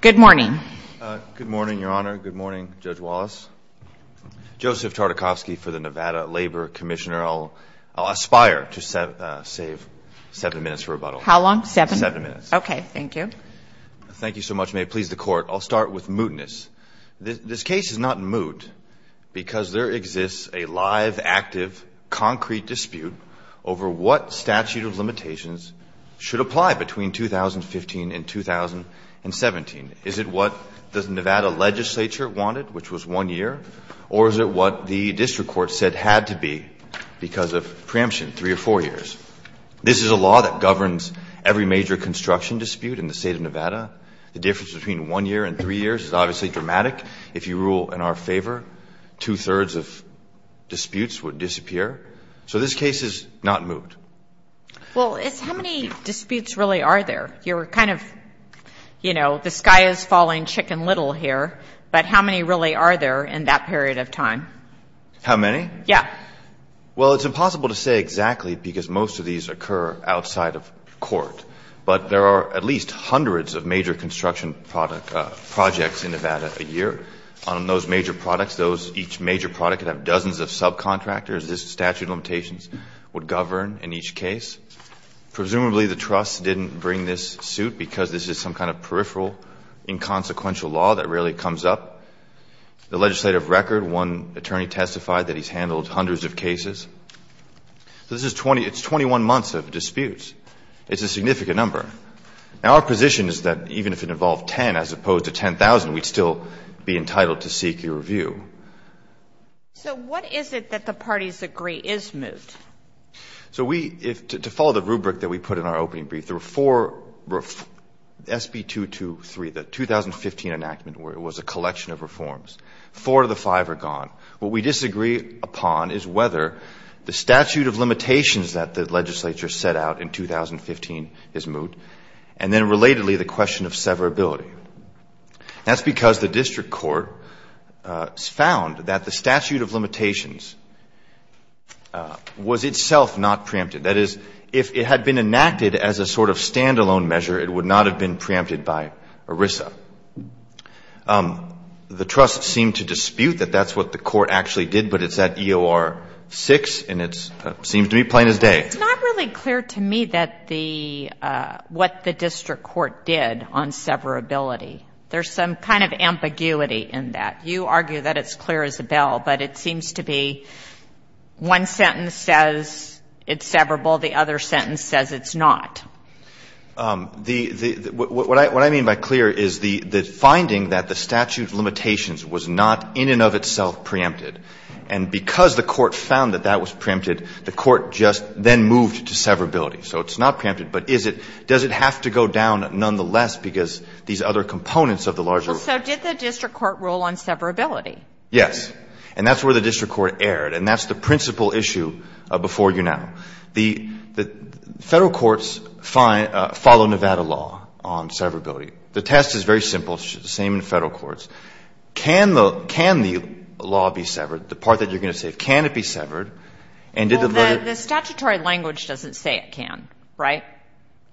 Good morning. Good morning, Your Honor. Good morning, Judge Wallace. Joseph Tartakovsky for the Nevada Labor Commissioner. I'll aspire to save seven minutes for rebuttal. How long? Seven? Seven minutes. Okay, thank you. Thank you so much. May it please the Court, I'll start with mootness. This case is not moot because there exists a live, active, concrete dispute over what statute of limitations should apply between 2015 and 2017. Is it what the Nevada legislature wanted, which was one year, or is it what the district court said had to be because of preemption, three or four years? This is a law that governs every major construction dispute in the state of Nevada. The difference between one year and three years is obviously dramatic. If you rule in our favor, two-thirds of disputes would disappear. So this case is not moot. Well, it's how many disputes really are there? You're kind of, you know, the sky is falling chicken little here, but how many really are there in that period of time? How many? Yeah. Well, it's impossible to say exactly because most of these occur outside of court, but there are at least hundreds of major construction projects in Nevada a year. On those major products, each major product could have dozens of subcontractors. The statute of limitations would govern in each case. Presumably the trust didn't bring this suit because this is some kind of peripheral inconsequential law that rarely comes up. The legislative record, one attorney testified that he's handled hundreds of cases. So this is 20 — it's 21 months of disputes. It's a significant number. Now, our position is that even if it involved 10, as opposed to 10,000, we'd still be entitled to seek a review. So what is it that the parties agree is moot? So we — to follow the rubric that we put in our opening brief, there were four — SB223, the 2015 enactment, where it was a collection of reforms. Four of the five are gone. What we disagree upon is whether the statute of limitations that the legislature set out in 2015 is moot, and then relatedly the question of severability. That's because the district court found that the statute of limitations was itself not preempted. That is, if it had been enacted as a sort of standalone measure, it would not have been preempted by ERISA. The trust seemed to dispute that that's what the court actually did, but it's at EOR 6, and it seems to me plain as day. It's not really clear to me that the — what the district court did on severability. There's some kind of ambiguity in that. You argue that it's clear as a bell, but it seems to be one sentence says it's severable, the other sentence says it's not. What I mean by clear is the finding that the statute of limitations was not in and of itself preempted, and because the court found that that was preempted, the court just then moved to severability. So it's not preempted, but is it? Does it have to go down nonetheless because these other components of the larger rule? So did the district court rule on severability? Yes. And that's where the district court erred, and that's the principal issue before you now. The Federal courts follow Nevada law on severability. The test is very simple. It's the same in Federal courts. Can the law be severed? The part that you're going to say, can it be severed? Well, the statutory language doesn't say it can, right?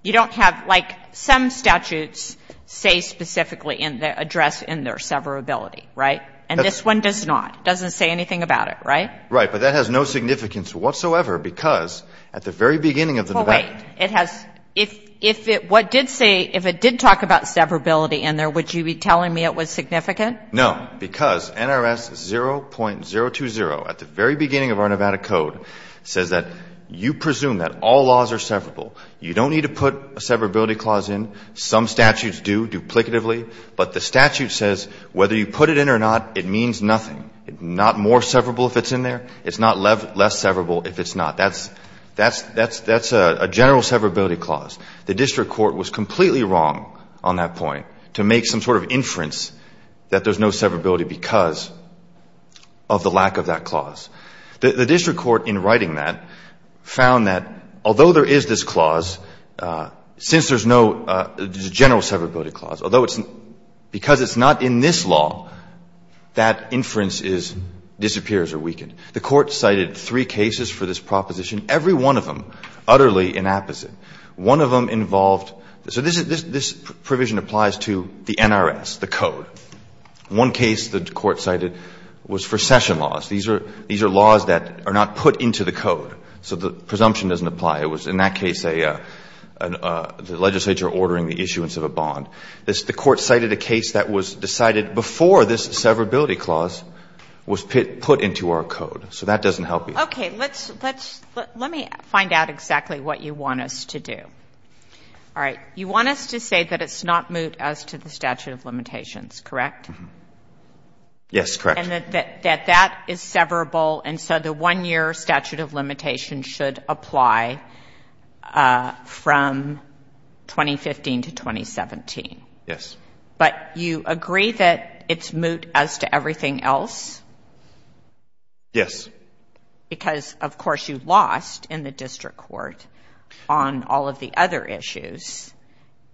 You don't have — like, some statutes say specifically in the address in there severability, right? And this one does not. It doesn't say anything about it, right? Right. But that has no significance whatsoever because at the very beginning of the Nevada — Well, wait. It has — if it — what did say — if it did talk about severability in there, would you be telling me it was significant? No. Because NRS 0.020 at the very beginning of our Nevada Code says that you presume that all laws are severable. You don't need to put a severability clause in. Some statutes do duplicatively, but the statute says whether you put it in or not, it means nothing. It's not more severable if it's in there. It's not less severable if it's not. That's a general severability clause. The district court was completely wrong on that point to make some sort of inference that there's no severability because of the lack of that clause. The district court in writing that found that although there is this clause, since there's no general severability clause, although it's — because it's not in this law, that inference is — disappears or weakened. The Court cited three cases for this proposition, every one of them utterly inapposite. One of them involved — so this provision applies to the NRS, the Code. One case the Court cited was for session laws. These are laws that are not put into the Code. So the presumption doesn't apply. It was in that case a — the legislature ordering the issuance of a bond. The Court cited a case that was decided before this severability clause was put into our Code. So that doesn't help either. Okay. Let's — let me find out exactly what you want us to do. All right. You want us to say that it's not moot as to the statute of limitations, correct? Yes, correct. And that that is severable, and so the 1-year statute of limitations should apply from 2015 to 2017. Yes. But you agree that it's moot as to everything else? Yes. But you agree that it's moot because, of course, you lost in the district court on all of the other issues.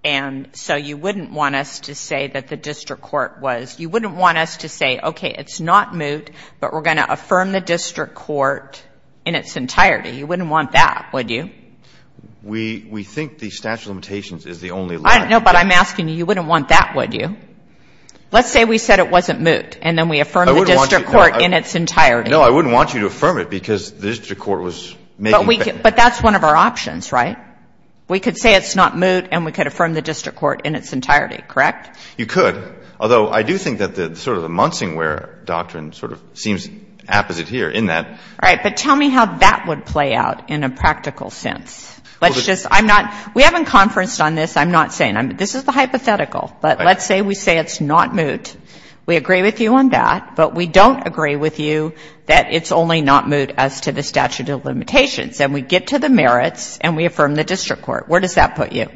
And so you wouldn't want us to say that the district court was — you wouldn't want us to say, okay, it's not moot, but we're going to affirm the district court in its entirety. You wouldn't want that, would you? We — we think the statute of limitations is the only limit. No, but I'm asking you, you wouldn't want that, would you? Let's say we said it wasn't moot, and then we affirm the district court in its entirety. No, I wouldn't want you to affirm it because the district court was making — But we — but that's one of our options, right? We could say it's not moot, and we could affirm the district court in its entirety, correct? You could, although I do think that the sort of the Munsingware doctrine sort of seems apposite here in that — All right. But tell me how that would play out in a practical sense. Let's just — I'm not — we haven't conferenced on this. I'm not saying — this is the hypothetical. But let's say we say it's not moot. We agree with you on that. But we don't agree with you that it's only not moot as to the statute of limitations. And we get to the merits, and we affirm the district court. Where does that put you?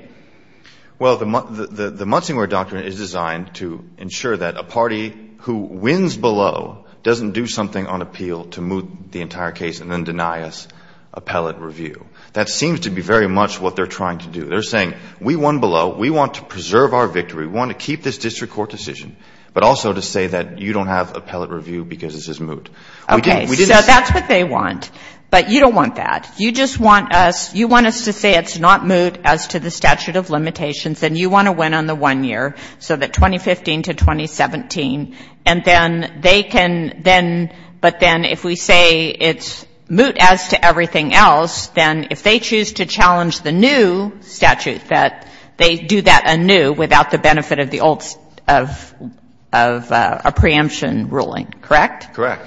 Well, the Munsingware doctrine is designed to ensure that a party who wins below doesn't do something on appeal to moot the entire case and then deny us appellate review. That seems to be very much what they're trying to do. They're saying we won below. We want to preserve our victory. We want to keep this district court decision, but also to say that you don't have appellate review because this is moot. Okay. So that's what they want. But you don't want that. You just want us — you want us to say it's not moot as to the statute of limitations, and you want to win on the one year, so that 2015 to 2017. And then they can then — but then if we say it's moot as to everything else, then if they choose to challenge the new statute, that they do that anew without the benefit of the old — of a preemption ruling, correct? Correct.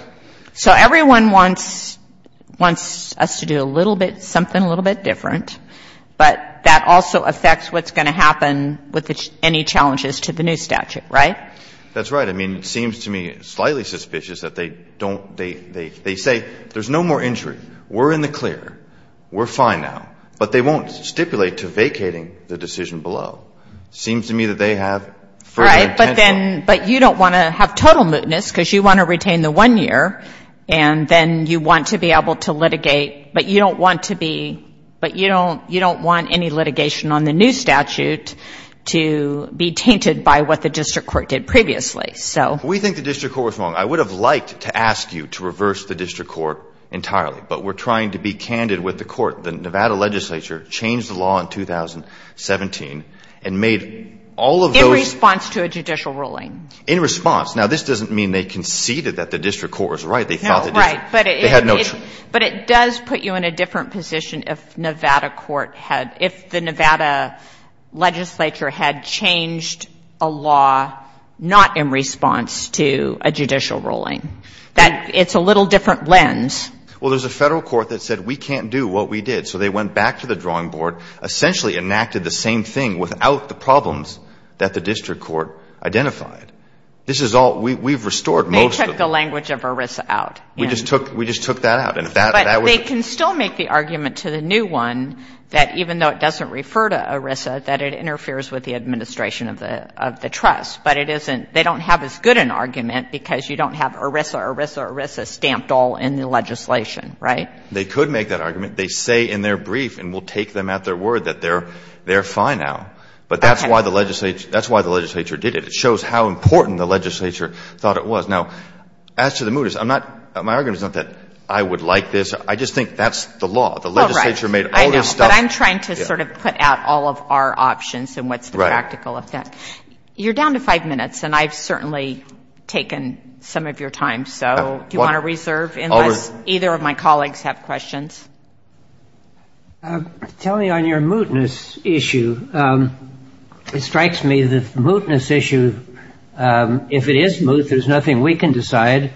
So everyone wants — wants us to do a little bit — something a little bit different, but that also affects what's going to happen with any challenges to the new statute, right? That's right. I mean, it seems to me slightly suspicious that they don't — they say there's no more injury. We're in the clear. We're fine now. But they won't stipulate to vacating the decision below. It seems to me that they have further intention. Right. But then — but you don't want to have total mootness because you want to retain the one year, and then you want to be able to litigate, but you don't want to be — but you don't — you don't want any litigation on the new statute to be tainted by what the district court did previously. So — We think the district court was wrong. I would have liked to ask you to reverse the district court entirely, but we're trying to be candid with the court. The Nevada legislature changed the law in 2017 and made all of those — In response to a judicial ruling. In response. Now, this doesn't mean they conceded that the district court was right. They thought the district — No, right. But it — They had no — But it does put you in a different position if Nevada court had — if the Nevada legislature had changed a law not in response to a judicial ruling. That — it's a little different lens. Well, there's a Federal court that said we can't do what we did. So they went back to the drawing board, essentially enacted the same thing without the problems that the district court identified. This is all — we've restored most of — They took the language of ERISA out. We just took — we just took that out. And if that — But they can still make the argument to the new one that even though it doesn't refer to ERISA, that it interferes with the administration of the trust. But it isn't — they don't have as good an argument because you don't have ERISA, ERISA, ERISA stamped all in the legislation. Right? They could make that argument. They say in their brief, and we'll take them at their word, that they're fine now. Okay. But that's why the legislature — that's why the legislature did it. It shows how important the legislature thought it was. Now, as to the mooters, I'm not — my argument is not that I would like this. I just think that's the law. The legislature made all this stuff — They cut out all of our options and what's the practical effect. Right. You're down to five minutes, and I've certainly taken some of your time. So do you want to reserve unless either of my colleagues have questions? Tell me on your mootness issue. It strikes me that the mootness issue, if it is moot, there's nothing we can decide.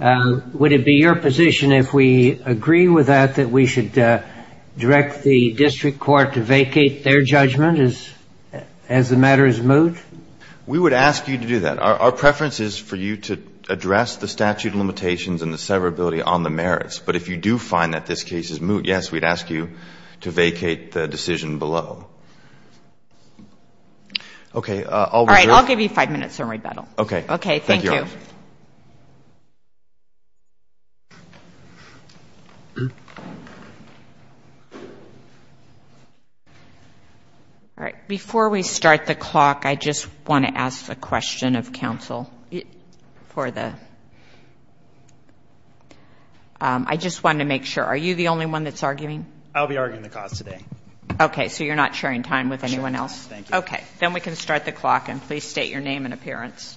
Would it be your position if we agree with that that we should direct the district court to vacate their judgment as the matter is moot? We would ask you to do that. Our preference is for you to address the statute of limitations and the severability on the merits. But if you do find that this case is moot, yes, we'd ask you to vacate the decision below. Okay. I'll reserve. All right. I'll give you five minutes to rebuttal. Okay. Thank you. All right. Before we start the clock, I just want to ask a question of counsel for the — I just wanted to make sure. Are you the only one that's arguing? I'll be arguing the cause today. Okay. So you're not sharing time with anyone else? Sure. Thank you. Okay. Then we can start the clock. And please state your name and appearance.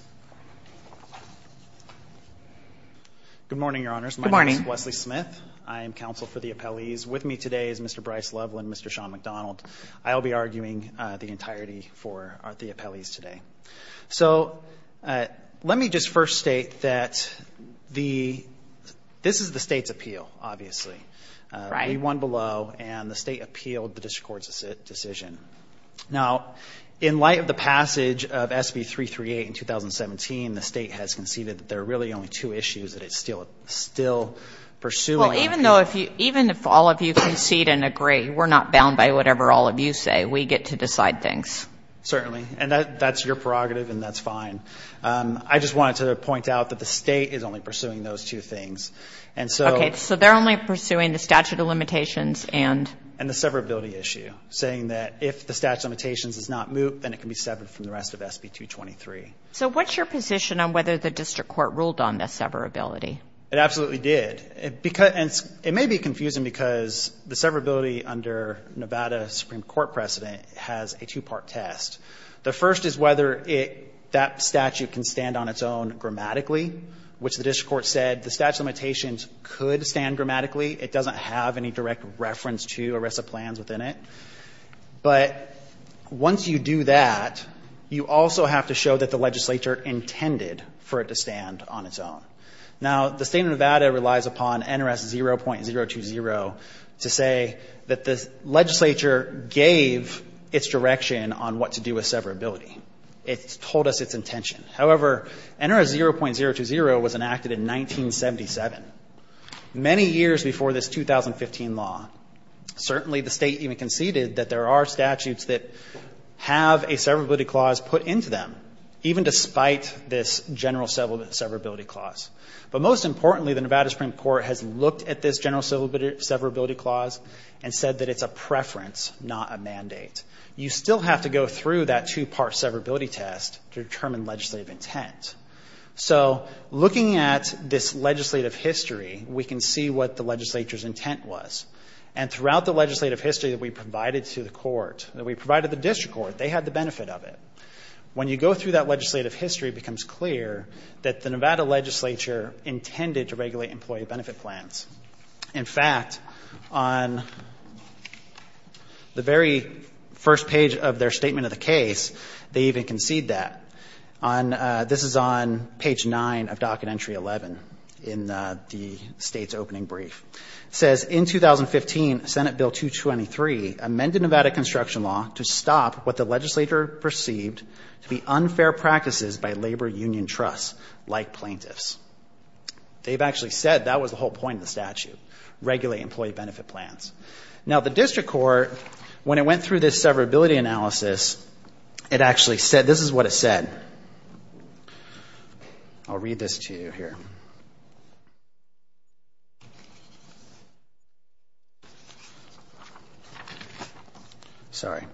Good morning, Your Honors. Good morning. My name is Wesley Smith. I am counsel for the appellees. With me today is Mr. Bryce Loveland and Mr. Sean McDonald. I'll be arguing the entirety for the appellees today. So let me just first state that this is the state's appeal, obviously. Right. We won below, and the state appealed the district court's decision. Now, in light of the passage of SB338 in 2017, the state has conceded that there are really only two issues that it's still pursuing. Well, even if all of you concede and agree, we're not bound by whatever all of you say. We get to decide things. Certainly. And that's your prerogative, and that's fine. I just wanted to point out that the state is only pursuing those two things. And so — Okay. So they're only pursuing the statute of limitations and — And if the statute of limitations does not move, then it can be severed from the rest of SB223. So what's your position on whether the district court ruled on the severability? It absolutely did. And it may be confusing because the severability under Nevada Supreme Court precedent has a two-part test. The first is whether that statute can stand on its own grammatically, which the district court said the statute of limitations could stand grammatically. It doesn't have any direct reference to ERISA plans within it. But once you do that, you also have to show that the legislature intended for it to stand on its own. Now, the state of Nevada relies upon NRS 0.020 to say that the legislature gave its direction on what to do with severability. It told us its intention. However, NRS 0.020 was enacted in 1977, many years before this 2015 law. Certainly, the state even conceded that there are statutes that have a severability clause put into them, even despite this general severability clause. But most importantly, the Nevada Supreme Court has looked at this general severability clause and said that it's a preference, not a mandate. You still have to go through that two-part severability test to determine legislative intent. So looking at this legislative history, we can see what the legislature's intent was. And throughout the legislative history that we provided to the court, that we provided the district court, they had the benefit of it. When you go through that legislative history, it becomes clear that the Nevada legislature intended to regulate employee benefit plans. In fact, on the very first page of their statement of the case, they even conceded that. This is on page 9 of Docket Entry 11 in the state's opening brief. It says, in 2015, Senate Bill 223 amended Nevada construction law to stop what the legislature perceived to be unfair practices by labor union trusts, like plaintiffs. They've actually said that was the whole point of the statute, regulate employee benefit plans. Now, the district court, when it went through this severability analysis, it actually said, this is what it said. I'll read this to you here. Sorry.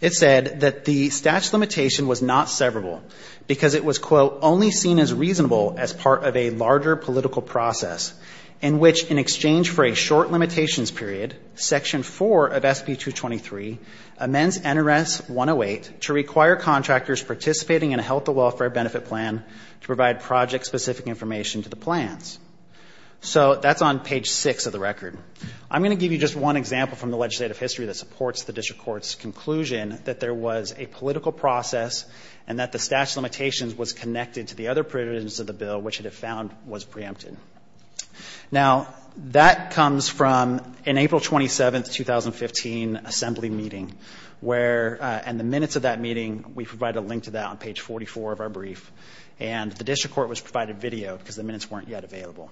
It said that the statute limitation was not severable because it was, quote, only seen as reasonable as part of a larger political process in which, in exchange for a short limitations period, Section 4 of SB 223 amends NRS 108 to require contractors participating in a health and welfare benefit plan to provide project-specific information to the plans. So that's on page 6 of the record. I'm going to give you just one example from the legislative history that supports the district court's conclusion that there was a political process and that the statute of limitations was connected to the other provisions of the bill, which it had found was preempted. Now, that comes from an April 27, 2015, assembly meeting, where in the minutes of that meeting, we provide a link to that on page 44 of our brief. And the district court was provided video because the minutes weren't yet available.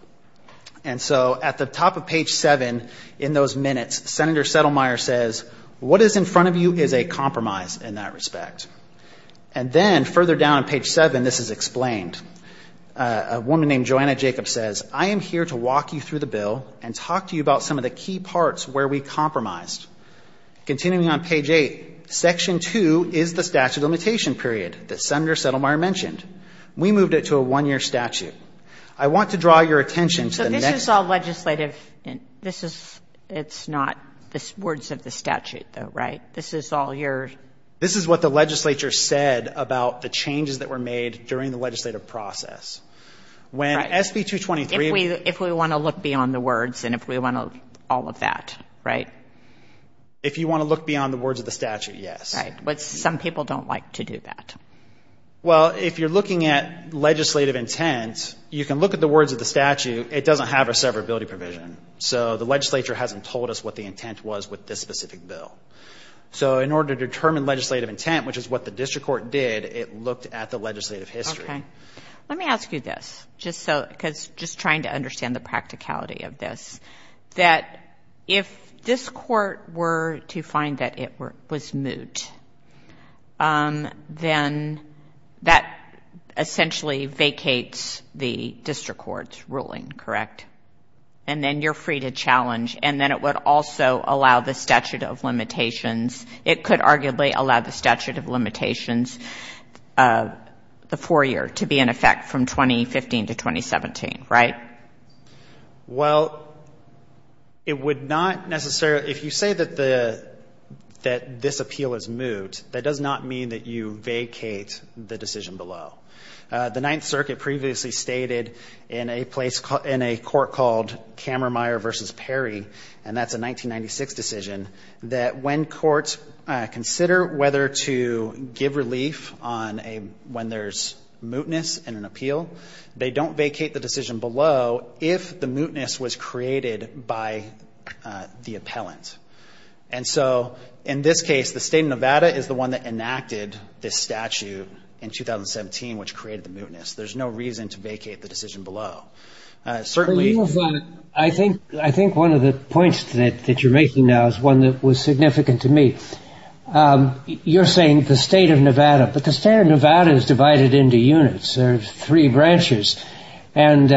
And so at the top of page 7 in those minutes, Senator Settlemyer says, what is in front of you is a compromise in that respect. And then further down on page 7, this is explained. A woman named Joanna Jacobs says, I am here to walk you through the bill and talk to you about some of the key parts where we compromised. Continuing on page 8, Section 2 is the statute of limitation period that Senator Settlemyer mentioned. We moved it to a one-year statute. I want to draw your attention to the next – So this is all legislative. This is not the words of the statute, though, right? This is all your – This is what the legislature said about the changes that were made during the legislative process. When SB 223 – If we want to look beyond the words and if we want to – all of that, right? If you want to look beyond the words of the statute, yes. Right. But some people don't like to do that. Well, if you're looking at legislative intent, you can look at the words of the statute. It doesn't have a severability provision. So the legislature hasn't told us what the intent was with this specific bill. So in order to determine legislative intent, which is what the district court did, it looked at the legislative history. Okay. Let me ask you this just so – because just trying to understand the practicality of this, that if this court were to find that it was moot, then that essentially vacates the district court's ruling, correct? And then you're free to challenge. And then it would also allow the statute of limitations. It could arguably allow the statute of limitations, the four-year, to be in effect from 2015 to 2017, right? Well, it would not necessarily – if you say that this appeal is moot, that does not mean that you vacate the decision below. The Ninth Circuit previously stated in a court called Kammermeier v. Perry, and that's a 1996 decision, that when courts consider whether to give relief when there's mootness in an appeal, they don't vacate the decision below if the mootness was created by the appellant. And so in this case, the state of Nevada is the one that enacted this statute in 2017, which created the mootness. There's no reason to vacate the decision below. I think one of the points that you're making now is one that was significant to me. You're saying the state of Nevada, but the state of Nevada is divided into units. There are three branches. And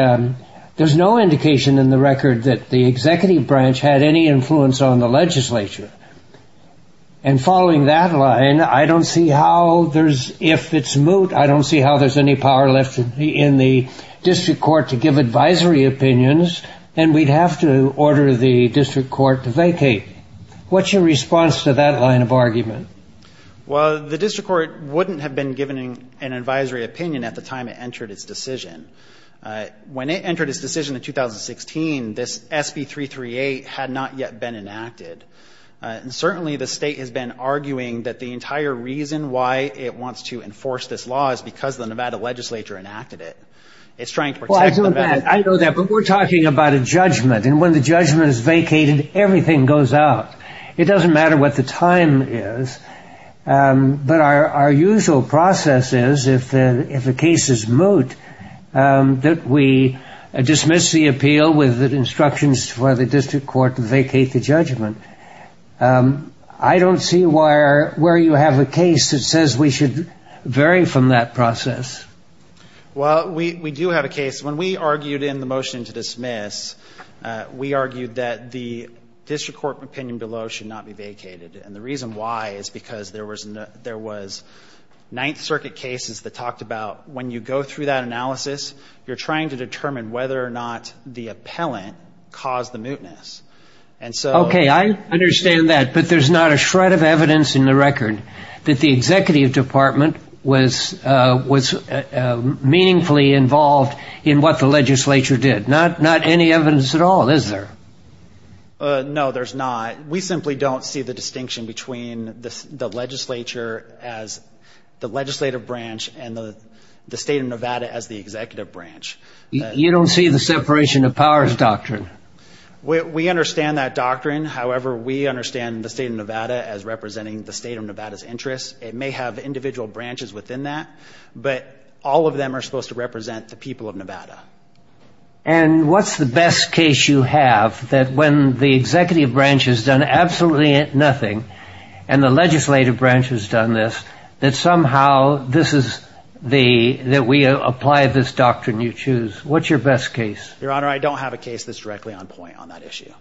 there's no indication in the record that the executive branch had any influence on the legislature. And following that line, I don't see how there's – if it's moot, I don't see how there's any power left in the district court to give advisory opinions, and we'd have to order the district court to vacate. What's your response to that line of argument? Well, the district court wouldn't have been given an advisory opinion at the time it entered its decision. When it entered its decision in 2016, this SB338 had not yet been enacted. And certainly the state has been arguing that the entire reason why it wants to enforce this law is because the Nevada legislature enacted it. It's trying to protect Nevada. Well, I know that, but we're talking about a judgment. And when the judgment is vacated, everything goes out. It doesn't matter what the time is, but our usual process is, if the case is moot, that we dismiss the appeal with instructions for the district court to vacate the judgment. I don't see where you have a case that says we should vary from that process. Well, we do have a case. When we argued in the motion to dismiss, we argued that the district court opinion below should not be vacated. And the reason why is because there was ninth circuit cases that talked about when you go through that analysis, you're trying to determine whether or not the appellant caused the mootness. Okay, I understand that. But there's not a shred of evidence in the record that the executive department was meaningfully involved in what the legislature did. Not any evidence at all, is there? No, there's not. We simply don't see the distinction between the legislature as the legislative branch and the state of Nevada as the executive branch. You don't see the separation of powers doctrine? We understand that doctrine. However, we understand the state of Nevada as representing the state of Nevada's interests. It may have individual branches within that, but all of them are supposed to represent the people of Nevada. And what's the best case you have that when the executive branch has done absolutely nothing, and the legislative branch has done this, that somehow this is the – that we apply this doctrine you choose? What's your best case? Your Honor, I don't have a case that's directly on point on that issue.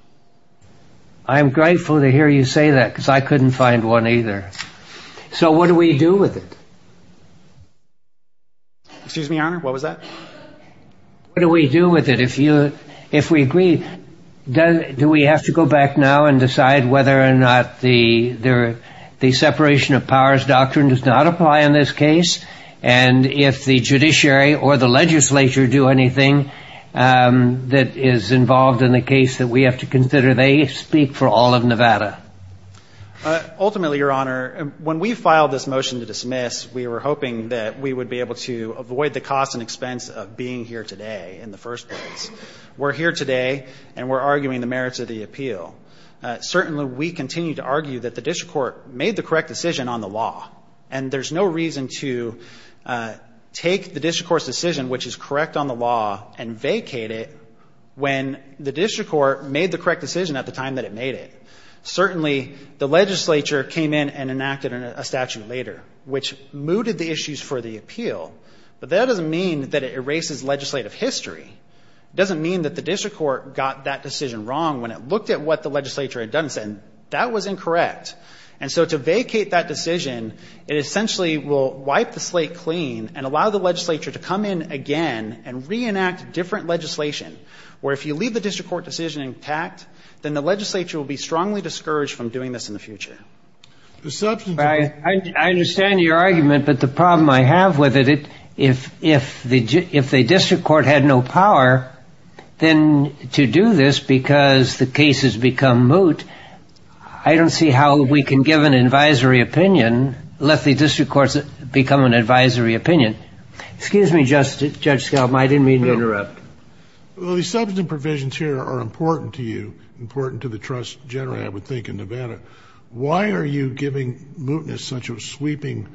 I'm grateful to hear you say that because I couldn't find one either. So what do we do with it? Excuse me, Your Honor? What was that? What do we do with it? If we agree, do we have to go back now and decide whether or not the separation of powers doctrine does not apply in this case? And if the judiciary or the legislature do anything that is involved in the case that we have to consider, they speak for all of Nevada. Ultimately, Your Honor, when we filed this motion to dismiss, we were hoping that we would be able to avoid the cost and expense of being here today in the first place. We're here today, and we're arguing the merits of the appeal. Certainly, we continue to argue that the district court made the correct decision on the law, and there's no reason to take the district court's decision, which is correct on the law, and vacate it when the district court made the correct decision at the time that it made it. Certainly, the legislature came in and enacted a statute later, which mooted the issues for the appeal, but that doesn't mean that it erases legislative history. It doesn't mean that the district court got that decision wrong when it looked at what the legislature had done and said that was incorrect. And so to vacate that decision, it essentially will wipe the slate clean and allow the legislature to come in again and reenact different legislation, where if you leave the district court decision intact, then the legislature will be strongly discouraged from doing this in the future. I understand your argument, but the problem I have with it, if the district court had no power, then to do this because the case has become moot, I don't see how we can give an advisory opinion, let the district courts become an advisory opinion. Excuse me, Judge Scalma. I didn't mean to interrupt. Well, the substantive provisions here are important to you, important to the trust generally, I would think, in Nevada. Why are you giving mootness such a sweeping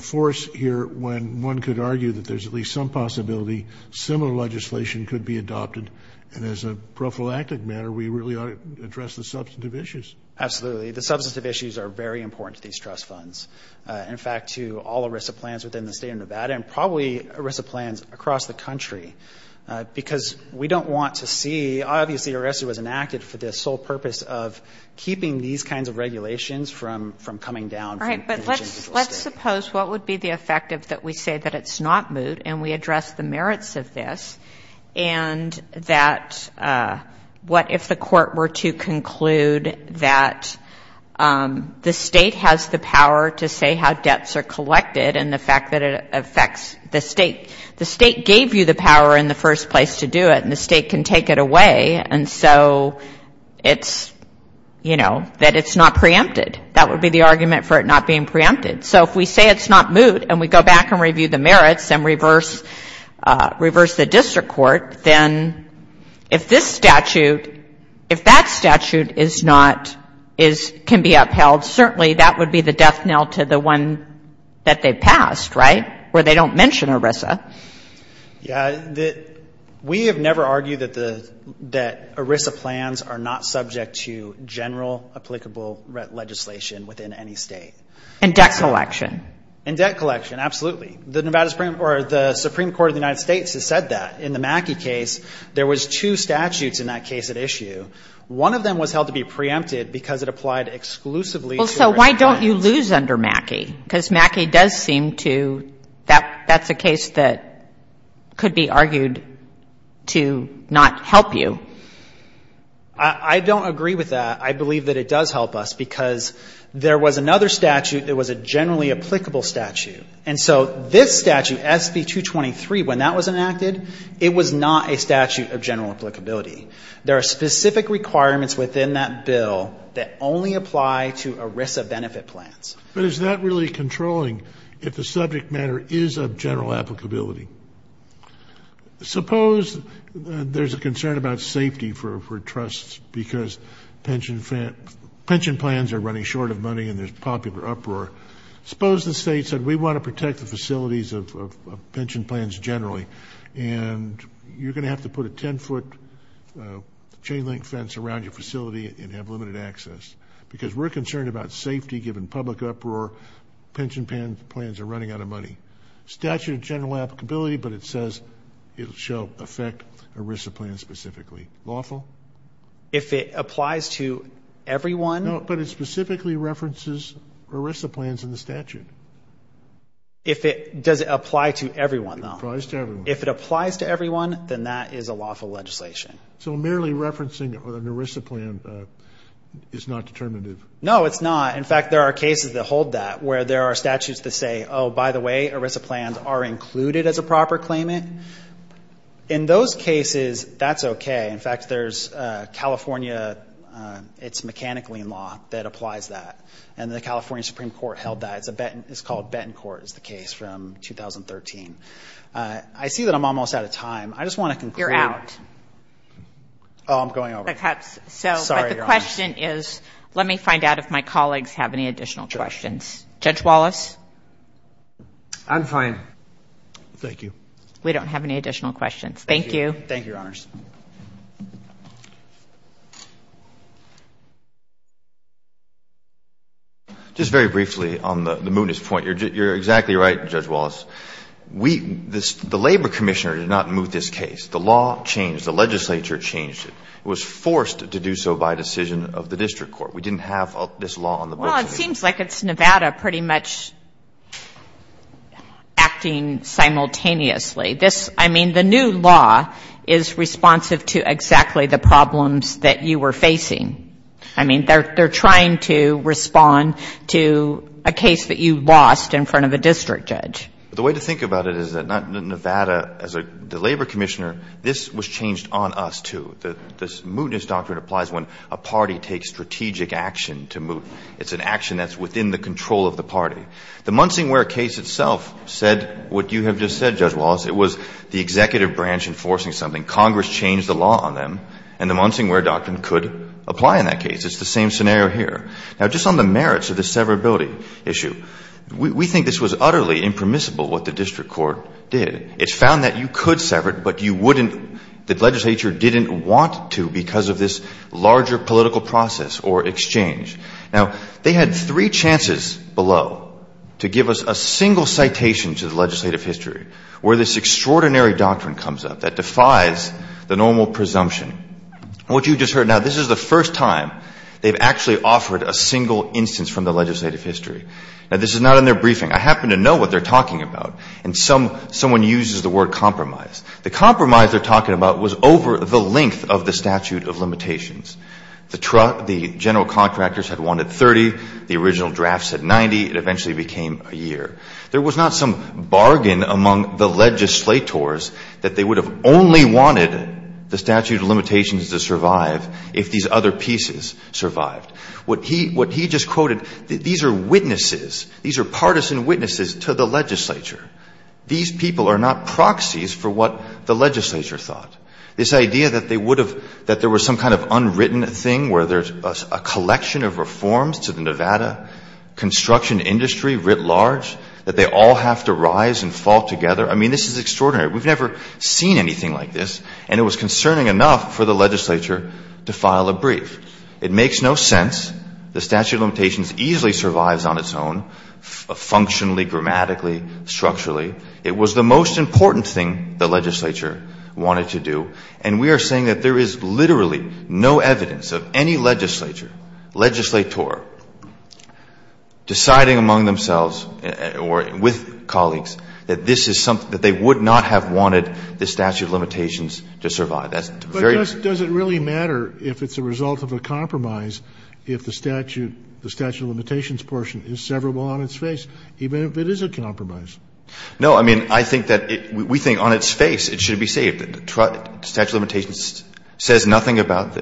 force here when one could argue that there's at least some possibility similar legislation could be adopted, and as a prophylactic matter, we really ought to address the substantive issues? Absolutely. The substantive issues are very important to these trust funds. In fact, to all ERISA plans within the state of Nevada, and probably ERISA plans across the country, because we don't want to see, obviously ERISA was enacted for the sole purpose of keeping these kinds of regulations from coming down from the general state. Well, let's suppose what would be the effect if we say that it's not moot and we address the merits of this, and that what if the court were to conclude that the state has the power to say how debts are collected and the fact that it affects the state. The state gave you the power in the first place to do it, and the state can take it away, and so it's, you know, that it's not preempted. That would be the argument for it not being preempted. So if we say it's not moot and we go back and review the merits and reverse the district court, then if this statute, if that statute is not, can be upheld, certainly that would be the death knell to the one that they passed, right, where they don't mention ERISA. Yeah. We have never argued that ERISA plans are not subject to general applicable legislation within any state. And debt collection. And debt collection, absolutely. The Nevada Supreme Court or the Supreme Court of the United States has said that. In the Mackey case, there was two statutes in that case at issue. One of them was held to be preempted because it applied exclusively to ERISA plans. But you lose under Mackey because Mackey does seem to, that's a case that could be argued to not help you. I don't agree with that. I believe that it does help us because there was another statute that was a generally applicable statute. And so this statute, SB-223, when that was enacted, it was not a statute of general applicability. There are specific requirements within that bill that only apply to ERISA benefit plans. But is that really controlling if the subject matter is of general applicability? Suppose there's a concern about safety for trusts because pension plans are running short of money and there's popular uproar. Suppose the state said we want to protect the facilities of pension plans generally. And you're going to have to put a 10-foot chain link fence around your facility and have limited access. Because we're concerned about safety given public uproar, pension plans are running out of money. Statute of general applicability, but it says it shall affect ERISA plans specifically. Lawful? If it applies to everyone? No, but it specifically references ERISA plans in the statute. If it, does it apply to everyone, though? If it applies to everyone. If it applies to everyone, then that is a lawful legislation. So merely referencing an ERISA plan is not determinative? No, it's not. In fact, there are cases that hold that, where there are statutes that say, oh, by the way, ERISA plans are included as a proper claimant. In those cases, that's okay. In fact, there's California, it's a mechanical lien law that applies that. And the California Supreme Court held that. It's called Benton Court is the case from 2013. I see that I'm almost out of time. I just want to conclude. You're out. Oh, I'm going over. Sorry, Your Honors. But the question is, let me find out if my colleagues have any additional questions. Judge Wallace? I'm fine. Thank you. We don't have any additional questions. Thank you. Thank you, Your Honors. Just very briefly on the Moody's point. You're exactly right, Judge Wallace. We, the Labor Commissioner did not move this case. The law changed. The legislature changed it. It was forced to do so by decision of the district court. We didn't have this law on the books. Well, it seems like it's Nevada pretty much acting simultaneously. This, I mean, the new law is responsive to exactly the problems that you were facing. I mean, they're trying to respond to a case that you lost in front of a district judge. The way to think about it is that Nevada, as the Labor Commissioner, this was changed on us, too. This mootness doctrine applies when a party takes strategic action to moot. It's an action that's within the control of the party. The Munsingware case itself said what you have just said, Judge Wallace. It was the executive branch enforcing something. Congress changed the law on them. And the Munsingware doctrine could apply in that case. It's the same scenario here. Now, just on the merits of the severability issue, we think this was utterly impermissible, what the district court did. It found that you could sever it, but you wouldn't, the legislature didn't want to because of this larger political process or exchange. Now, they had three chances below to give us a single citation to the legislative history where this extraordinary doctrine comes up that defies the normal presumption. What you just heard now, this is the first time they've actually offered a single instance from the legislative history. Now, this is not in their briefing. I happen to know what they're talking about. And someone uses the word compromise. The compromise they're talking about was over the length of the statute of limitations. The general contractors had wanted 30. The original draft said 90. It eventually became a year. There was not some bargain among the legislators that they would have only wanted the statute of limitations to survive if these other pieces survived. What he just quoted, these are witnesses. These are partisan witnesses to the legislature. These people are not proxies for what the legislature thought. This idea that they would have, that there was some kind of unwritten thing where there's a collection of reforms to the Nevada construction industry writ large, that they all have to rise and fall together. I mean, this is extraordinary. We've never seen anything like this, and it was concerning enough for the legislature to file a brief. It makes no sense. The statute of limitations easily survives on its own, functionally, grammatically, structurally. It was the most important thing the legislature wanted to do. And we are saying that there is literally no evidence of any legislature, legislator, deciding among themselves or with colleagues that this is something, that they would not have wanted the statute of limitations to survive. That's very clear. But does it really matter if it's a result of a compromise if the statute, the statute of limitations portion is severable on its face, even if it is a compromise? No. I mean, I think that we think on its face it should be saved. The statute of limitations says nothing about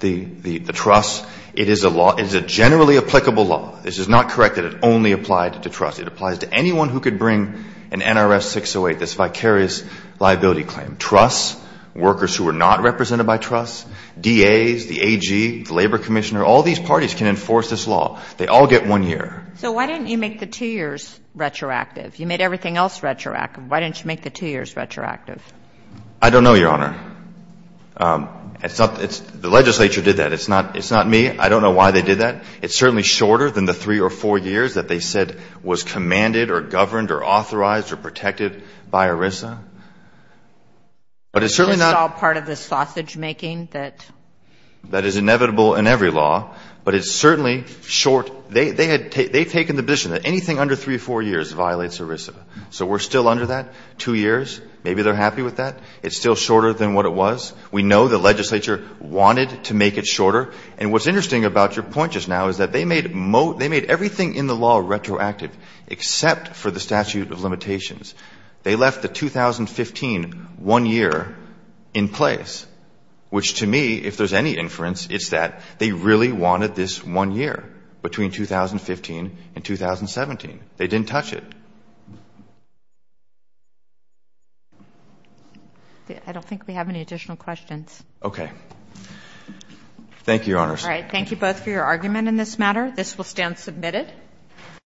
the truss. It is a law, it is a generally applicable law. This is not correct that it only applied to truss. It applies to anyone who could bring an NRS 608, this vicarious liability claim. Truss, workers who are not represented by truss, DAs, the AG, the labor commissioner, all these parties can enforce this law. They all get one year. So why didn't you make the two years retroactive? You made everything else retroactive. Why didn't you make the two years retroactive? I don't know, Your Honor. It's not the legislature did that. It's not me. I don't know why they did that. It's certainly shorter than the three or four years that they said was commanded or governed or authorized or protected by ERISA. But it's certainly not part of the sausage making that is inevitable in every law. But it's certainly short. They had taken the position that anything under three or four years violates ERISA. So we're still under that two years. Maybe they're happy with that. It's still shorter than what it was. We know the legislature wanted to make it shorter. And what's interesting about your point just now is that they made everything in the law retroactive except for the statute of limitations. They left the 2015 one year in place, which to me, if there's any inference, it's that they really wanted this one year between 2015 and 2017. They didn't touch it. I don't think we have any additional questions. Okay. Thank you, Your Honor. All right. Thank you both for your argument in this matter. This will stand submitted.